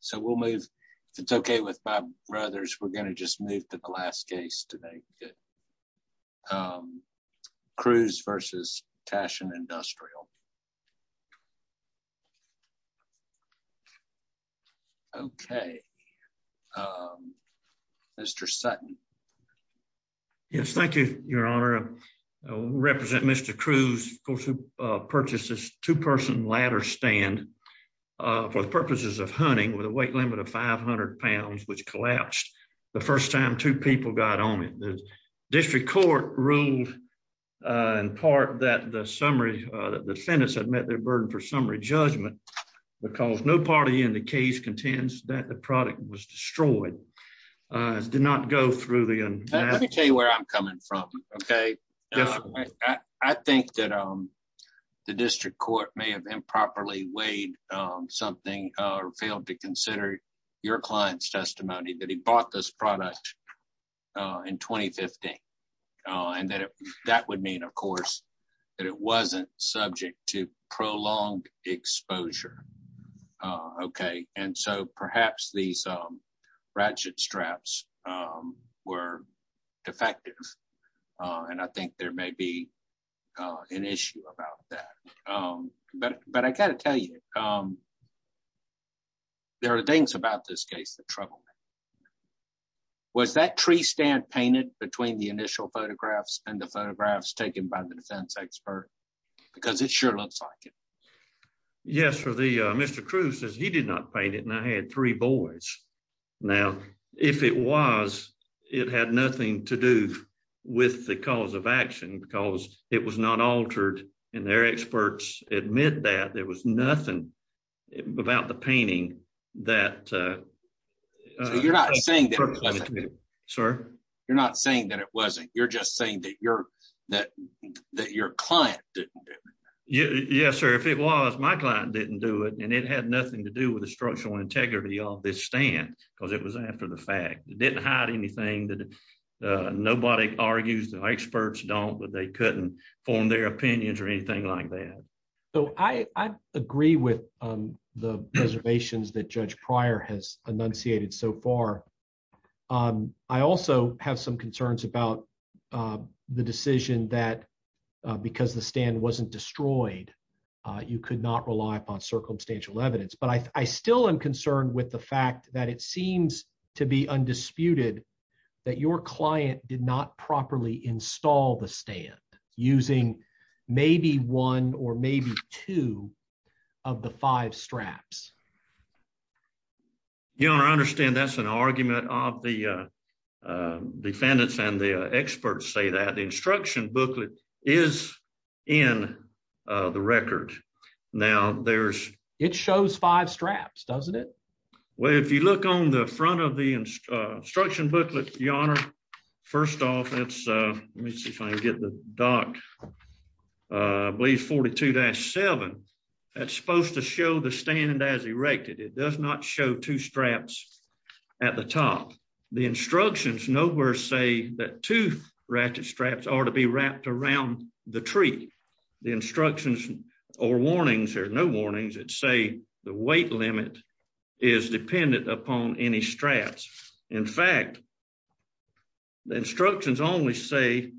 so we'll move if it's okay with Bob Brothers we're going to just move to the last case today good um Crews v. Tashin Industrial okay um Mr. Sutton yes thank you your honor represent Mr. Crews of course who uh purchased this two-person ladder stand uh for the purposes of hunting with a weight limit of 500 pounds which collapsed the first time two people got on it the district court ruled uh in part that the summary uh the defendants had met their burden for summary judgment because no party in the case contends that the product was destroyed uh did not go through the let me tell you where i'm coming from okay definitely i think that um the district court may have improperly weighed um something or failed to consider your client's testimony that he bought this product uh in 2015 and that that would mean of course that it wasn't subject to prolonged exposure uh okay and so perhaps these um ratchet straps um were defective uh and i think there may be uh an issue about that um but but i got to tell you um there are things about this case that troubled me was that tree stand painted between the initial photographs and the photographs taken by the defense expert because it sure looks like it yes for the uh Mr. Crews says he did not paint it and i had three boys now if it was it had nothing to do with the cause of action because it was not altered and their experts admit that there was nothing about the painting that uh you're not saying that sir you're not saying that it wasn't you're just saying that you're that that your client didn't do it yes sir if it was my client didn't do it and it had nothing to do with the structural integrity of this stand because it was after the fact it didn't hide anything that nobody argues the experts don't but they couldn't form their opinions or anything like that so i i agree with um the reservations that judge prior has enunciated so far um i also have some concerns about uh the decision that because the stand wasn't destroyed uh you could not rely upon circumstantial evidence but i i still am concerned with the fact that it seems to be undisputed that your client did not properly install the stand using maybe one or maybe two of the five straps your honor i understand that's an argument of the uh uh defendants and the experts say that the instruction booklet is in uh the record now there's it shows five straps doesn't it well if you look on the front of the instruction booklet your honor first off that's uh let me see if i can get the doc uh believe 42-7 that's supposed to show the stand as erected it does not show two straps at the top the instructions nowhere say that two ratchet straps are to be wrapped around the tree the instructions or warnings there's no warnings that say the weight limit is dependent upon any straps in fact the instructions only say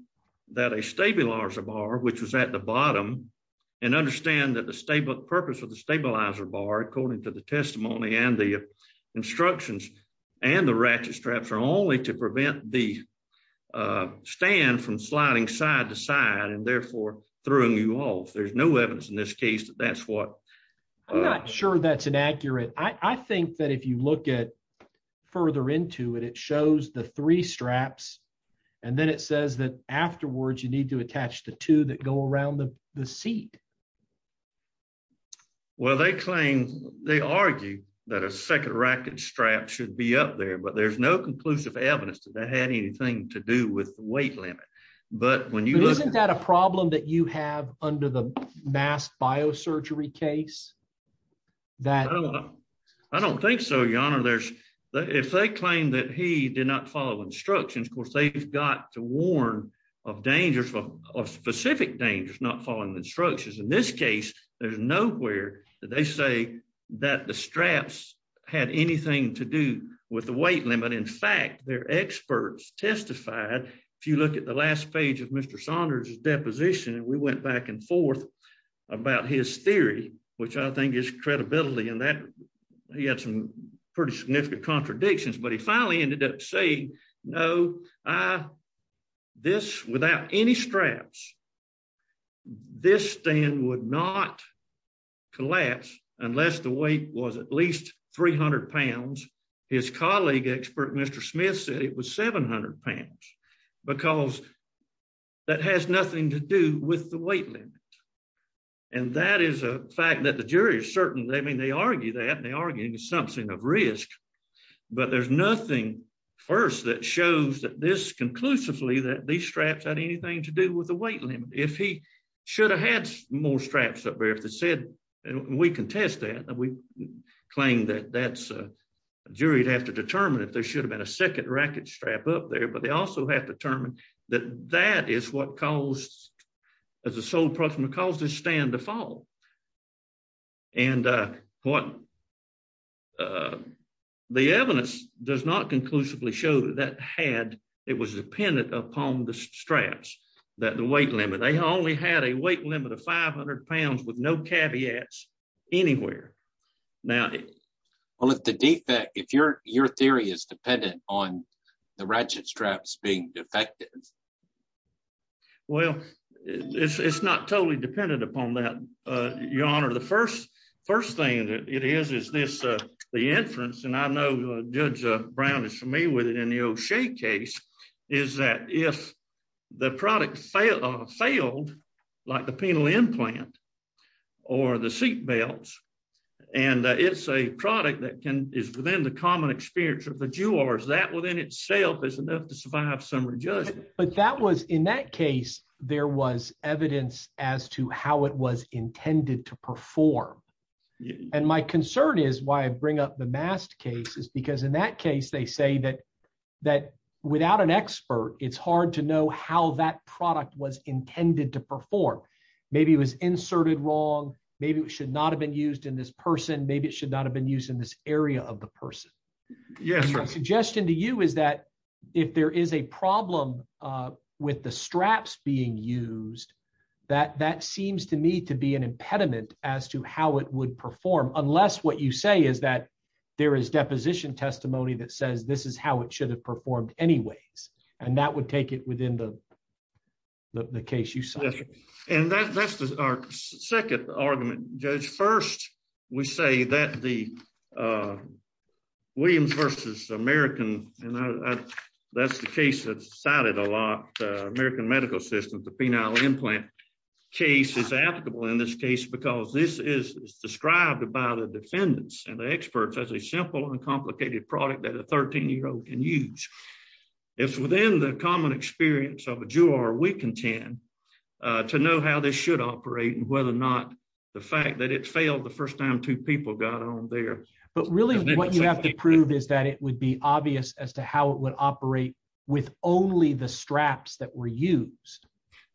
that a stabilizer bar which was at the bottom and understand that the stable purpose of the stabilizer bar according to the testimony and the instructions and the ratchet straps are only to prevent the uh stand from sliding side to side and therefore throwing you off there's no evidence in this case that that's what i'm not sure that's inaccurate i i think that if you look at further into it it shows the three straps and then it says that afterwards you need to attach the two that go around the the seat well they claim they argue that a second racket strap should be up there but there's no conclusive evidence that that had anything to do with the weight limit but when you look isn't that a problem that you have under the mass biosurgery case that i don't think so your honor there's if they claim that he did not follow instructions of course they've got to warn of danger of specific dangers not following the instructions in this case there's nowhere that they say that the straps had anything to do with the weight limit in fact their experts testified if you look at the last page of mr saunders's deposition and we went back and forth about his theory which i think is credibility and that he had some pretty significant contradictions but he finally ended up saying no i this without any straps this stand would not collapse unless the weight was at least 300 pounds his colleague expert mr smith said it was 700 pounds because that has nothing to do with the weight limit and that is a fact that the jury is certain they mean they argue that they are getting something of risk but there's nothing first that shows that this conclusively that these straps had anything to do with the weight limit if he should have had more straps up there if they said and we contest that that we claim that that's a jury to have to determine if there should have been a second racket strap up there but they also have determined that that is what caused as a sole proximate cause this stand to fall and uh what uh the evidence does not conclusively show that had it was dependent upon the straps that the weight limit they only had a weight limit of 500 pounds with no caveats anywhere now well if the defect if you're your theory is dependent on the ratchet straps being defective well it's it's not totally dependent upon that uh your honor the first first thing that it is is this uh the inference and i know judge uh brown is familiar with it in the o'shea case is that if the product failed failed like the penal implant or the seat belts and it's a product that can is within the common experience of the jewelers that within itself is enough to survive some rejuvenation but that was in that case there was evidence as to how it was intended to perform and my concern is why i bring up the mast case is because in that case they say that that without an expert it's hard to know how that product was intended to perform maybe it was inserted wrong maybe it should not have been used in this person maybe it should not have been used in this area of the person yes my suggestion to you is that if there is a problem uh with the straps being used that that seems to me to be an impediment as to how it would perform unless what you say is that there is deposition testimony that says this is how it should have performed anyways and that would take it within the the case you saw and that's our second argument judge first we say that the uh williams versus american and that's the case that's cited a lot uh american medical system the penile implant case is applicable in this case because this is described by the defendants and the experts as a simple and complicated product that a 13 year old can use it's within the common experience of a juror we contend uh to know how this should operate and whether or not the fact that it failed the first time two people got on there but really what you have to prove is that it would be obvious as to how it would operate with only the straps that were used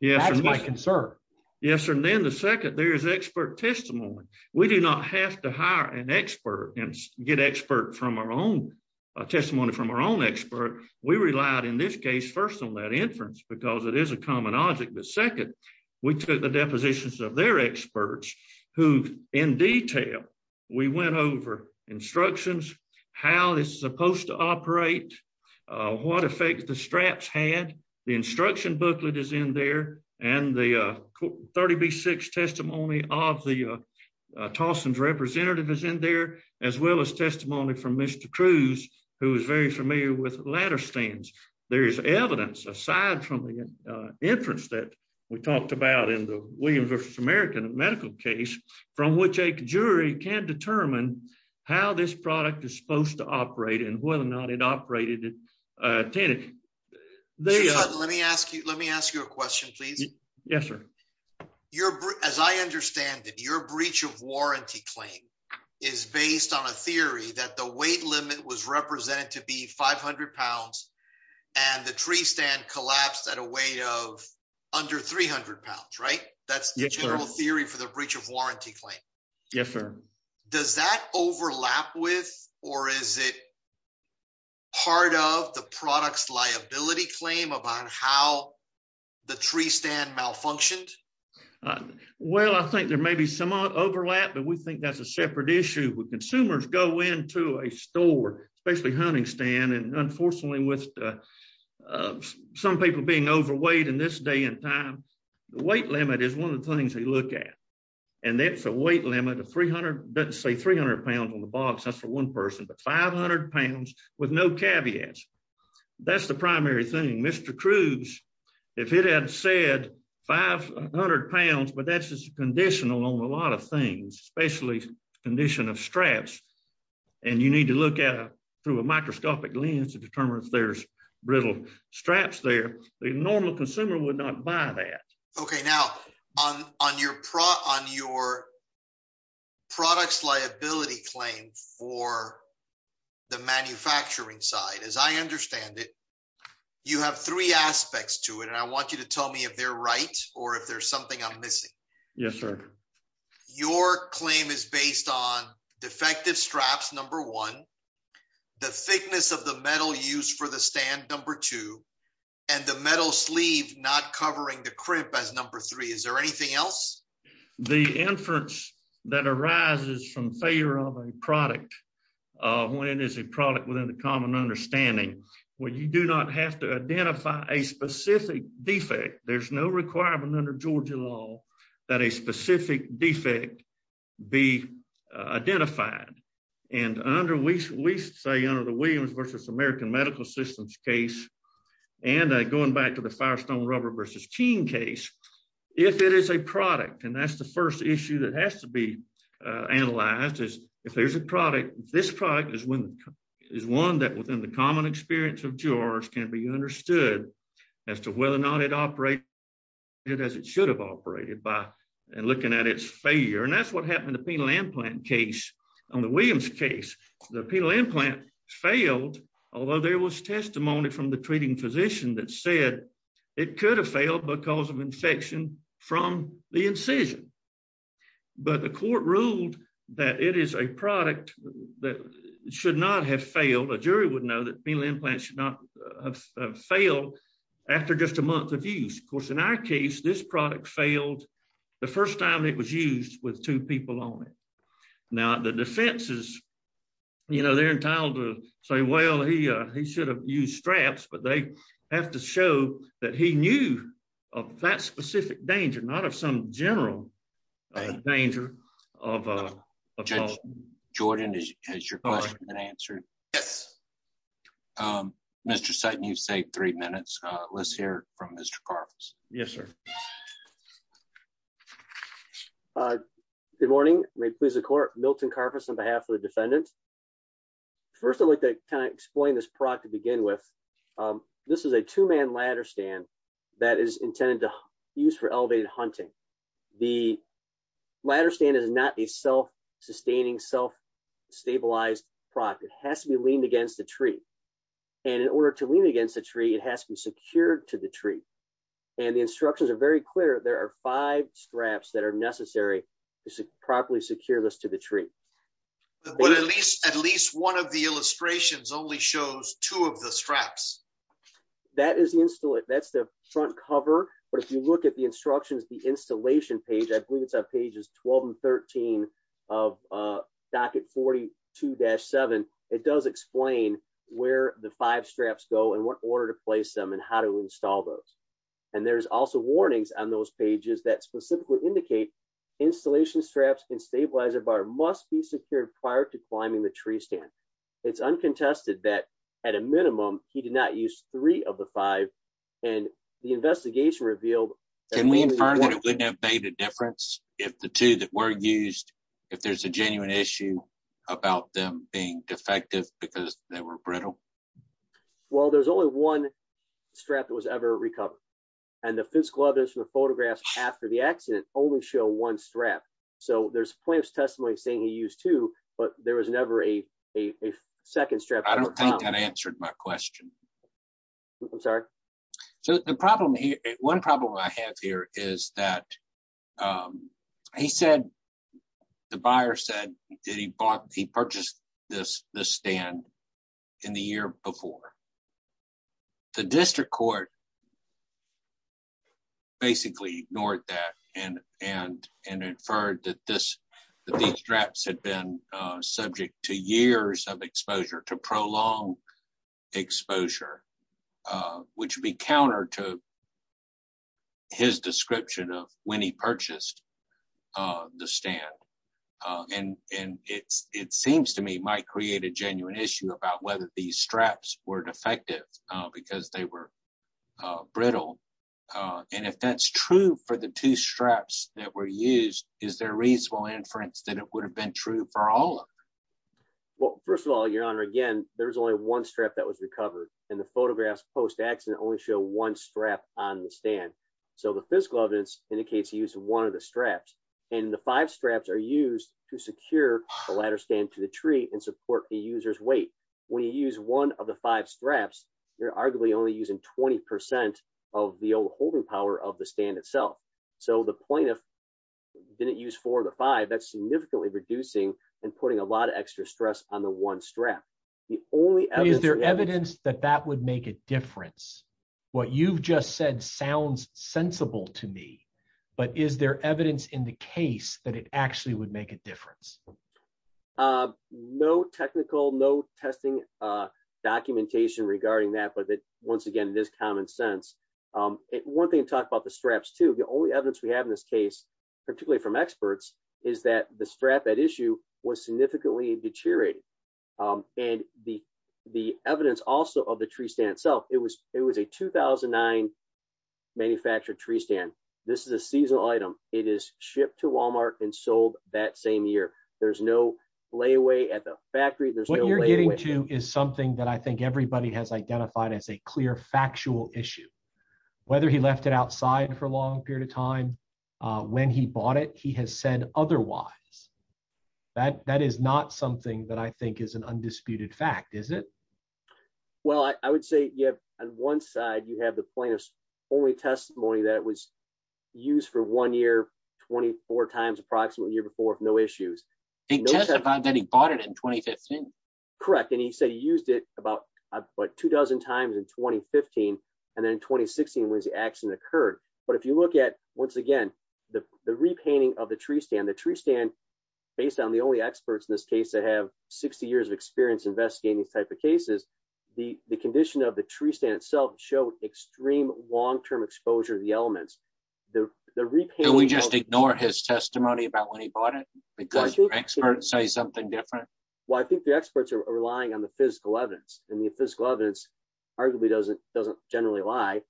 yes that's my concern yes and then the second there is expert testimony we do not have to hire an expert and get expert from our own testimony from our own expert we relied in this case first on that inference because it is a common object but second we took the depositions of their experts who in detail we went over instructions how this is supposed to operate what effect the straps had the instruction booklet is in there and the 30b6 testimony of the tolson's representative is in there as well as testimony from mr cruz who is very familiar with ladder stands there is evidence aside from the inference that we talked about in the williams versus american medical case from which a jury can determine how this product is supposed to operate uh tana let me ask you let me ask you a question please yes sir your as i understand that your breach of warranty claim is based on a theory that the weight limit was represented to be 500 pounds and the tree stand collapsed at a weight of under 300 pounds right that's the general for the breach of warranty claim yes sir does that overlap with or is it part of the product's liability claim about how the tree stand malfunctioned well i think there may be some overlap but we think that's a separate issue with consumers go into a store especially hunting stand and unfortunately with uh some people being overweight in this day and time the weight limit is one of the things they look at and that's a weight limit of 300 doesn't say 300 pounds on the box that's for one person but 500 pounds with no caveats that's the primary thing mr cruz if it had said 500 pounds but that's just conditional on a lot of things especially condition of straps and you need to look at through a microscopic lens to determine if there's brittle straps there the normal consumer would not buy that okay now on on your product on your product's liability claim for the manufacturing side as i understand it you have three aspects to it and i want you to tell me if they're right or if there's something i'm missing yes sir your claim is based on defective number one the thickness of the metal used for the stand number two and the metal sleeve not covering the crimp as number three is there anything else the inference that arises from failure of a product uh when it is a product within the common understanding where you do not have to identify a specific defect there's no requirement under georgia law that a specific defect be identified and under we say under the williams versus american medical systems case and going back to the firestone rubber versus teen case if it is a product and that's the first issue that has to be analyzed is if there's a product this product is when is one that within the common experience of george can be understood as to whether or not it operate it as it should have operated by and looking at its failure and that's what happened to penal implant case on the williams case the penal implant failed although there was testimony from the treating physician that said it could have failed because of infection from the incision but the court ruled that it is a product that should not have failed a jury would know that penal implants should not fail after just a month of use of course in our case this product failed the first time it was used with two people on it now the defense is you know they're entitled to say well he uh he should have used straps but they have to show that he knew of that specific danger not of some general danger of a judge jordan is has your question been answered yes um mr sight and you've saved three minutes uh let's hear from mr carver's yes sir uh good morning may it please the court milton carver's on behalf of the defendant first i'd like to kind of explain this product to begin with um this is a two-man ladder stand that is intended to use for elevated hunting the ladder stand is not a self-sustaining self-stabilized product it has to be leaned against the tree and in order to lean against the tree it has to be secured to the tree and the instructions are very clear there are five straps that are necessary to properly secure this to the tree but at least at least one of illustrations only shows two of the straps that is the install it that's the front cover but if you look at the instructions the installation page i believe it's on pages 12 and 13 of uh docket 42-7 it does explain where the five straps go and what order to place them and how to install those and there's also warnings on those pages that specifically indicate installation straps and stabilizer bar must be secured prior to climbing the tree stand it's uncontested that at a minimum he did not use three of the five and the investigation revealed can we infer that it wouldn't have made a difference if the two that were used if there's a genuine issue about them being defective because they were brittle well there's only one strap that was ever recovered and the physical evidence from the photographs after the accident only show one strap so there's plenty of testimony saying he used two but there was never a a second strap i don't think that answered my question i'm sorry so the problem here one problem i have here is that um he said the buyer said that he bought he purchased this this stand in the year before the district court basically ignored that and and and inferred that this these straps had been subject to years of exposure to prolonged exposure uh which would be counter to his description of when he purchased uh the stand uh and and it's it seems to me might create a because they were uh brittle uh and if that's true for the two straps that were used is there reasonable inference that it would have been true for all of them well first of all your honor again there's only one strap that was recovered and the photographs post-accident only show one strap on the stand so the physical evidence indicates he used one of the straps and the five straps are arguably only using 20 of the old holding power of the stand itself so the plaintiff didn't use four to five that's significantly reducing and putting a lot of extra stress on the one strap the only evidence is there evidence that that would make a difference what you've just said sounds sensible to me but is there evidence in the case that it actually would make a difference uh no technical no testing uh documentation regarding that but that once again this common sense um it one thing to talk about the straps too the only evidence we have in this case particularly from experts is that the strap that issue was significantly deteriorated um and the the evidence also of the tree stand itself it was it was a 2009 manufactured tree stand this is a seasonal item it is shipped to walmart and sold that same year there's no layaway at the factory there's what you're getting to is something that i think everybody has identified as a clear factual issue whether he left it outside for a long period of time uh when he bought it he has said otherwise that that is not something that i think is an only testimony that was used for one year 24 times approximately a year before no issues he testified that he bought it in 2015 correct and he said he used it about about two dozen times in 2015 and then in 2016 when the accident occurred but if you look at once again the the repainting of the tree stand the tree stand based on the only experts in this case that have 60 years of experience investigating these type of cases the the condition of the tree stand itself show extreme long-term exposure to the elements the the repayment we just ignore his testimony about when he bought it because your experts say something different well i think the experts are relying on the physical evidence and the physical evidence arguably doesn't doesn't generally lie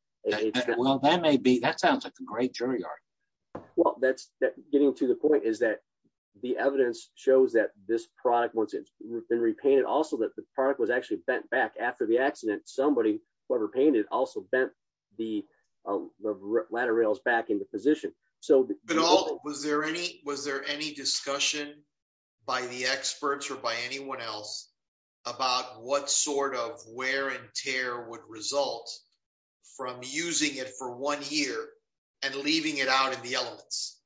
well that may be that sounds like a great jury yard well that's getting to the point is that the evidence shows that this product once it's been repainted also that the product was actually bent back after the accident somebody whoever painted also bent the uh the ladder rails back into position so but all was there any was there any discussion by the experts or by anyone else about what sort of wear and tear would result from using it for one year and leaving it out in the elements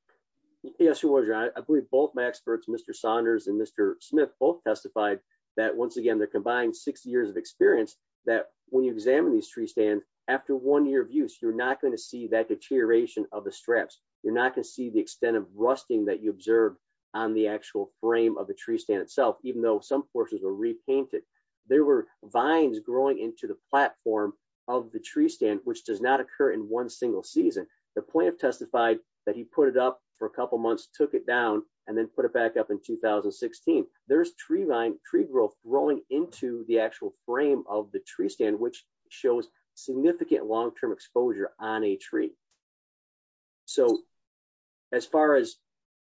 yes who was i believe both my experts mr saunders and mr smith both testified that once again they're combined six years of experience that when you examine these tree stand after one year of use you're not going to see that deterioration of the straps you're not going to see the extent of rusting that you observe on the actual frame of the tree stand itself even though some portions were repainted there were vines growing into the platform of the tree stand which does not occur in one single season the point of testified that he put it up for a couple months took it down and then put it back up in 2016 there's tree vine tree growth growing into the actual frame of the tree stand which shows significant long-term exposure on a tree so as far as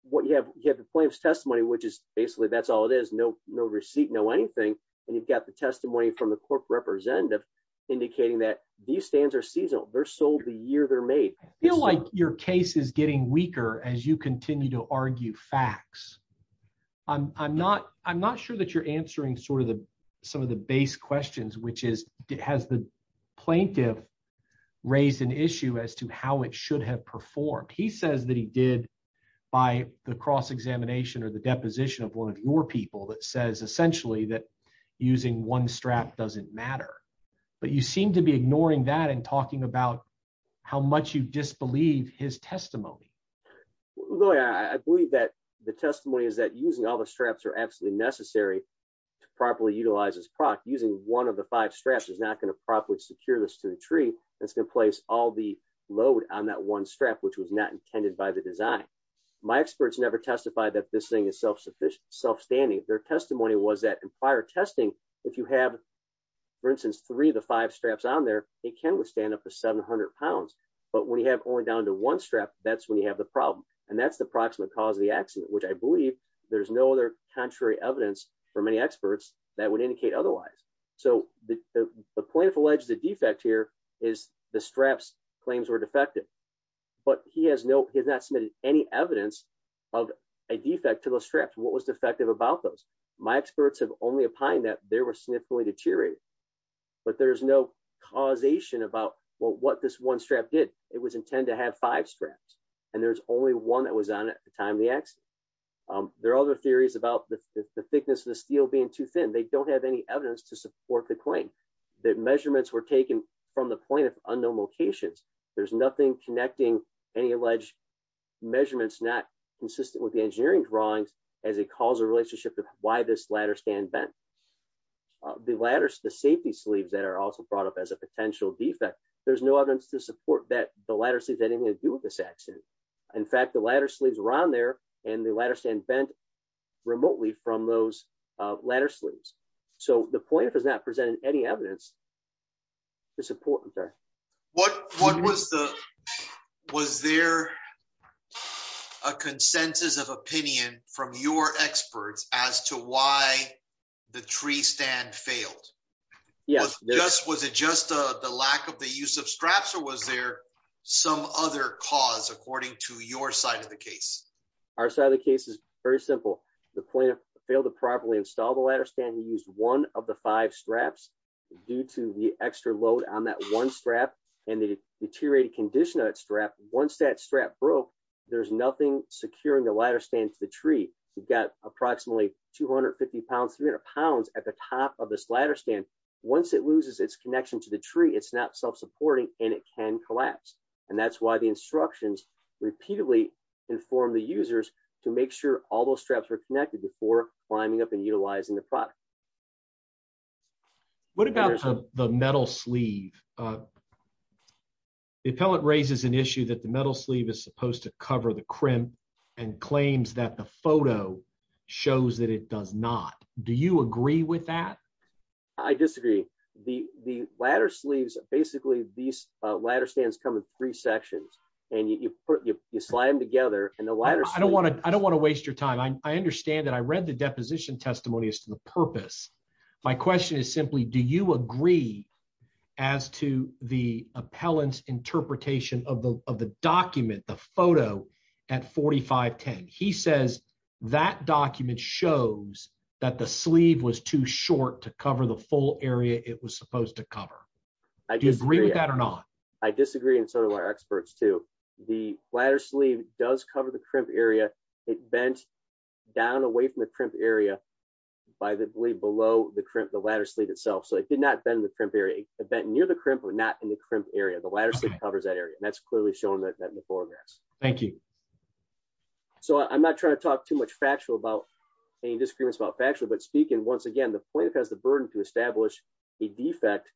what you have you have the plaintiff's testimony which is basically that's all it is no no receipt no anything and you've got the testimony from the court representative indicating that these stands are seasonal they're sold the year they're made feel like your case is getting weaker as you continue to argue facts i'm i'm not i'm not sure that you're answering sort of the some of the base questions which is has the plaintiff raised an issue as to how it should have performed he says that he did by the cross-examination or the deposition of one of your people that says essentially that using one strap doesn't matter but you seem to be ignoring that and talking about how much you disbelieve his testimony i believe that the testimony is that using all the straps are absolutely necessary to properly utilize this product using one of the five straps is not going to properly secure this to the tree that's going to place all the load on that one strap which was not intended by the design my experts never testified that this thing is self-sufficient self-standing their testimony was that in prior testing if you have for instance three to five straps on there it can withstand up to 700 pounds but when you have only down to one strap that's when you have the problem and that's the approximate cause of the accident which i believe there's no other contrary evidence for many experts that would indicate otherwise so the the point of alleged defect here is the straps claims were defective but he has no he's not submitted any evidence of a defect to the straps what was defective about those my experts have only opined that there were significantly deteriorated but there's no causation about what this one strap did it was intended to have five straps and there's only one that was on it at the time of the accident there are other theories about the thickness of the steel being too thin they don't have any evidence to support the claim that measurements were taken from the point of unknown locations there's nothing connecting any alleged measurements not consistent with engineering drawings as a causal relationship of why this ladder stand bent the ladders the safety sleeves that are also brought up as a potential defect there's no evidence to support that the ladder sleeves anything to do with this accident in fact the ladder sleeves around there and the ladder stand bent remotely from those uh ladder sleeves so the point does not present any evidence to support okay what what was the was there a consensus of opinion from your experts as to why the tree stand failed yes yes was it just uh the lack of the use of straps or was there some other cause according to your side of the case our side of the case is very simple the the extra load on that one strap and the deteriorated condition of that strap once that strap broke there's nothing securing the ladder stand to the tree you've got approximately 250 pounds 300 pounds at the top of this ladder stand once it loses its connection to the tree it's not self-supporting and it can collapse and that's why the instructions repeatedly inform the users to make sure all those straps were connected before climbing up and utilizing the product what about the metal sleeve uh the appellant raises an issue that the metal sleeve is supposed to cover the crimp and claims that the photo shows that it does not do you agree with that i disagree the the ladder sleeves basically these uh ladder stands come in three sections and you put you slide them together and the ladder i don't want to i don't want to waste your time i understand that i read the deposition testimony as to the purpose my question is simply do you agree as to the appellant's interpretation of the of the document the photo at 45 10 he says that document shows that the sleeve was too short to cover the full area it was supposed to cover i disagree with that or not i disagree and so do our experts too the ladder sleeve does cover the crimp area it bent down away from the crimp area by the blade below the crimp the ladder sleeve itself so it did not bend the crimp area bent near the crimp or not in the crimp area the ladder sleeve covers that area that's clearly showing that in the foreground thank you so i'm not trying to talk too much factual about any disagreements about factual but speaking once again the plaintiff has the burden to establish a defect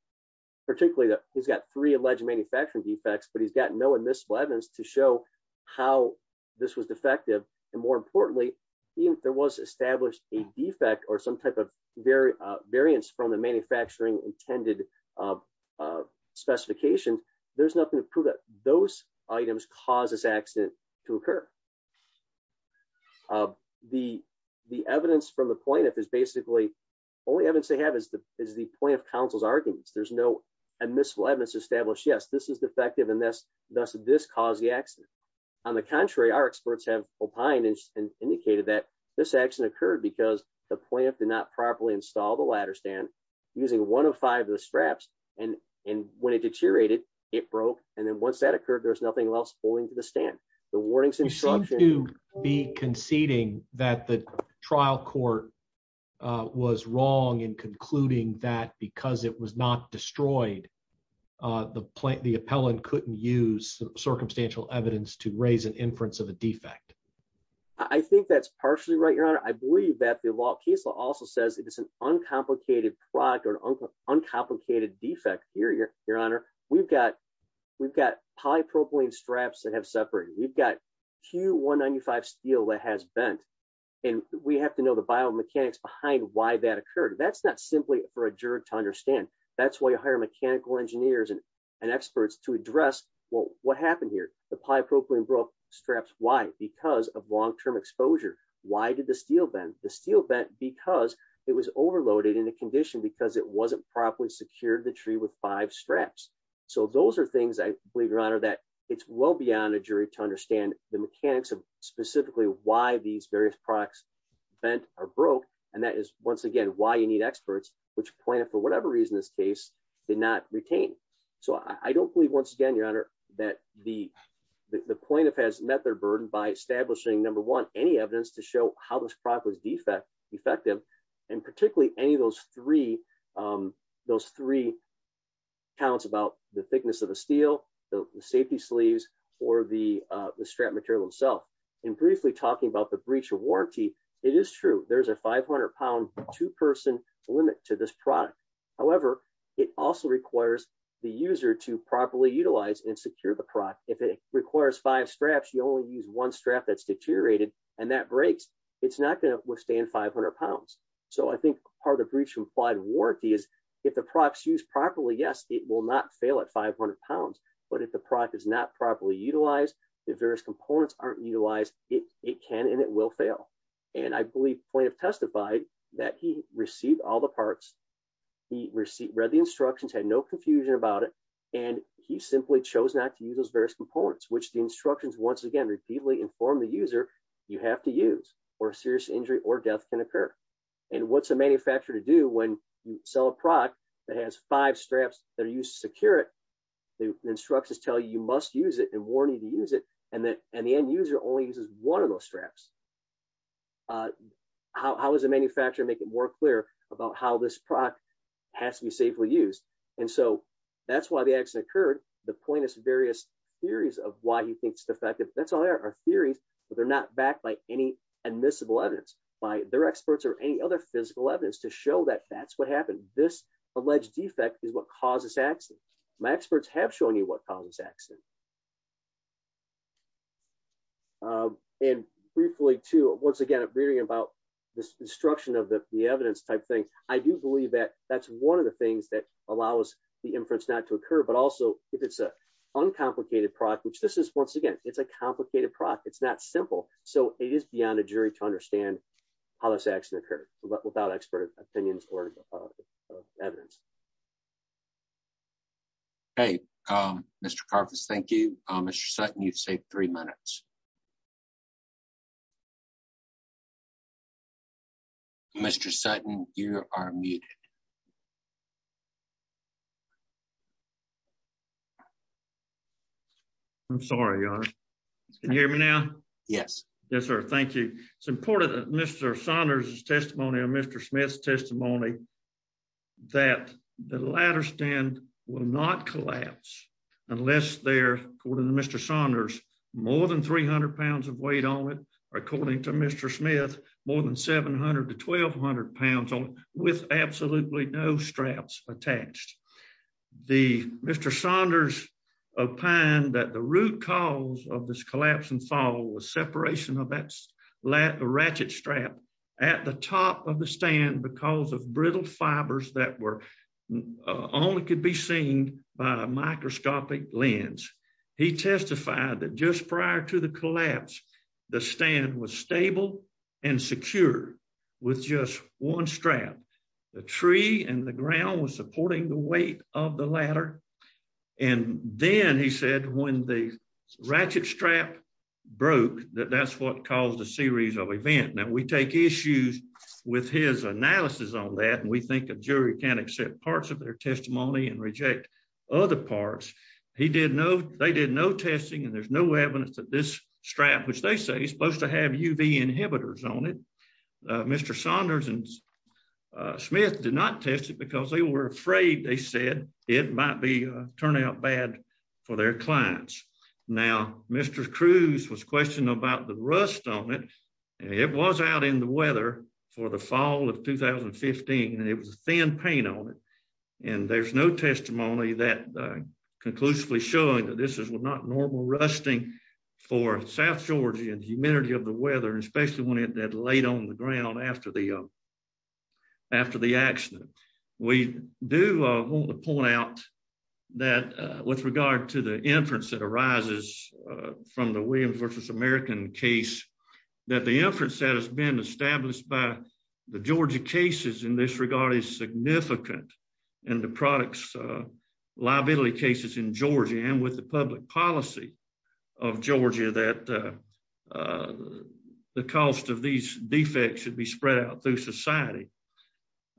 particularly that he's got three alleged manufacturing defects but he's got no admissible evidence to show how this was defective and more importantly even if there was established a defect or some type of very uh variance from the manufacturing intended uh uh specification there's nothing to prove that those items cause this accident to occur uh the the evidence from the plaintiff is basically only evidence they have is the is the point of counsel's arguments there's no admissible evidence to establish yes this is defective and thus thus this caused the accident on the contrary our experts have opined and indicated that this action occurred because the plaintiff did not properly install the ladder stand using one of five of the straps and and when it deteriorated it broke and then once that occurred there's nothing else holding to the wrong in concluding that because it was not destroyed uh the plant the appellant couldn't use circumstantial evidence to raise an inference of a defect i think that's partially right your honor i believe that the law case law also says it is an uncomplicated product or uncomplicated defect here your your honor we've got we've got polypropylene straps that have separated we've got q 195 steel that has bent and we have to know the biomechanics behind why that occurred that's not simply for a juror to understand that's why you hire mechanical engineers and experts to address well what happened here the polypropylene broke straps why because of long-term exposure why did the steel bend the steel bent because it was overloaded in a condition because it wasn't properly secured the tree with five straps so those are things i believe your honor that it's beyond a jury to understand the mechanics of specifically why these various products bent are broke and that is once again why you need experts which plaintiff for whatever reason this case did not retain so i don't believe once again your honor that the the plaintiff has met their burden by establishing number one any evidence to show how this product was defect effective and particularly any of those three um those three counts about the thickness of the steel the safety sleeves or the uh the strap material itself and briefly talking about the breach of warranty it is true there's a 500 pound two-person limit to this product however it also requires the user to properly utilize and secure the product if it requires five straps you only use one strap that's deteriorated and that breaks it's not going to withstand 500 pounds so i think part of breach implied warranty is if the products used properly yes it will not fail at 500 pounds but if the product is not properly utilized the various components aren't utilized it it can and it will fail and i believe plaintiff testified that he received all the parts he received read the instructions had no confusion about it and he simply chose not to use those various components which the instructions once again repeatedly inform the user you have to use or a serious injury or death can occur and what's a manufacturer to do when you sell a product that has five straps that are used to secure it the instructions tell you you must use it and warn you to use it and that and the end user only uses one of those straps uh how is the manufacturer make it more clear about how this product has to be safely used and so that's why the accident occurred the plaintiff's various theories of why he thinks defective that's all there are theories but they're not backed by any admissible evidence by their experts or any other physical evidence to show that that's what happened this alleged defect is what caused this accident my experts have shown you what caused this accident and briefly to once again reading about this instruction of the evidence type thing i do believe that that's one of the things that allow us the inference not to occur but also if it's a uncomplicated product which this is once again it's a complicated product it's not simple so it is beyond a jury to understand how this occurred but without expert opinions or evidence hey um mr carver's thank you um mr sutton you've saved three minutes mr sutton you are muted you i'm sorry can you hear me now yes yes sir thank you it's important that mr saunders's testimony on mr smith's testimony that the ladder stand will not collapse unless they're according to mr saunders more than 300 pounds of weight on it or according to mr smith more than 700 to 1200 pounds with absolutely no straps attached the mr saunders opined that the root cause of this collapse and fall was separation of that ratchet strap at the top of the stand because of brittle fibers that were only could be seen by a microscopic lens he testified that just prior to collapse the stand was stable and secure with just one strap the tree and the ground was supporting the weight of the ladder and then he said when the ratchet strap broke that that's what caused a series of event now we take issues with his analysis on that and we think a jury can accept parts of their testimony and reject other parts he did no they did no testing and there's no evidence that this strap which they say is supposed to have uv inhibitors on it mr saunders and smith did not test it because they were afraid they said it might be turn out bad for their clients now mr cruz was questioning about the rust on it and it was out in the weather for the fall of 2015 and it was a thin paint on it and there's no testimony that conclusively showing that this is not normal rusting for south georgia and humidity of the weather especially when it had laid on the ground after the after the accident we do want to point out that with regard to the inference that arises from the williams versus american case that the inference that has been established by the georgia cases in this regard is significant and the products liability cases in georgia and with the public policy of georgia that the cost of these defects should be spread out through society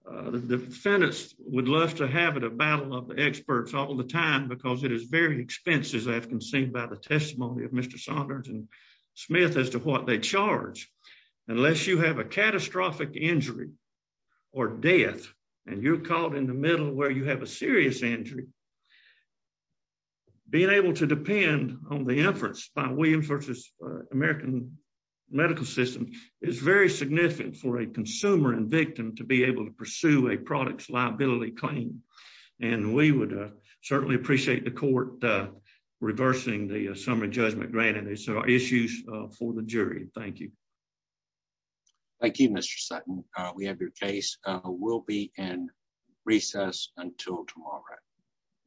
the defendants would love to have it a battle of the experts all the time because it is very expensive as i've conceded by the testimony of mr saunders and smith as to what they charge unless you have a catastrophic injury or death and you're caught in the middle where you have a serious injury being able to depend on the efforts by williams versus american medical system is very significant for a consumer and victim to be able to pursue a product's liability claim and we would certainly appreciate the court reversing the summary judgment granted these are issues for the jury thank you thank you mr sutton uh we have your case uh we'll be in recess until tomorrow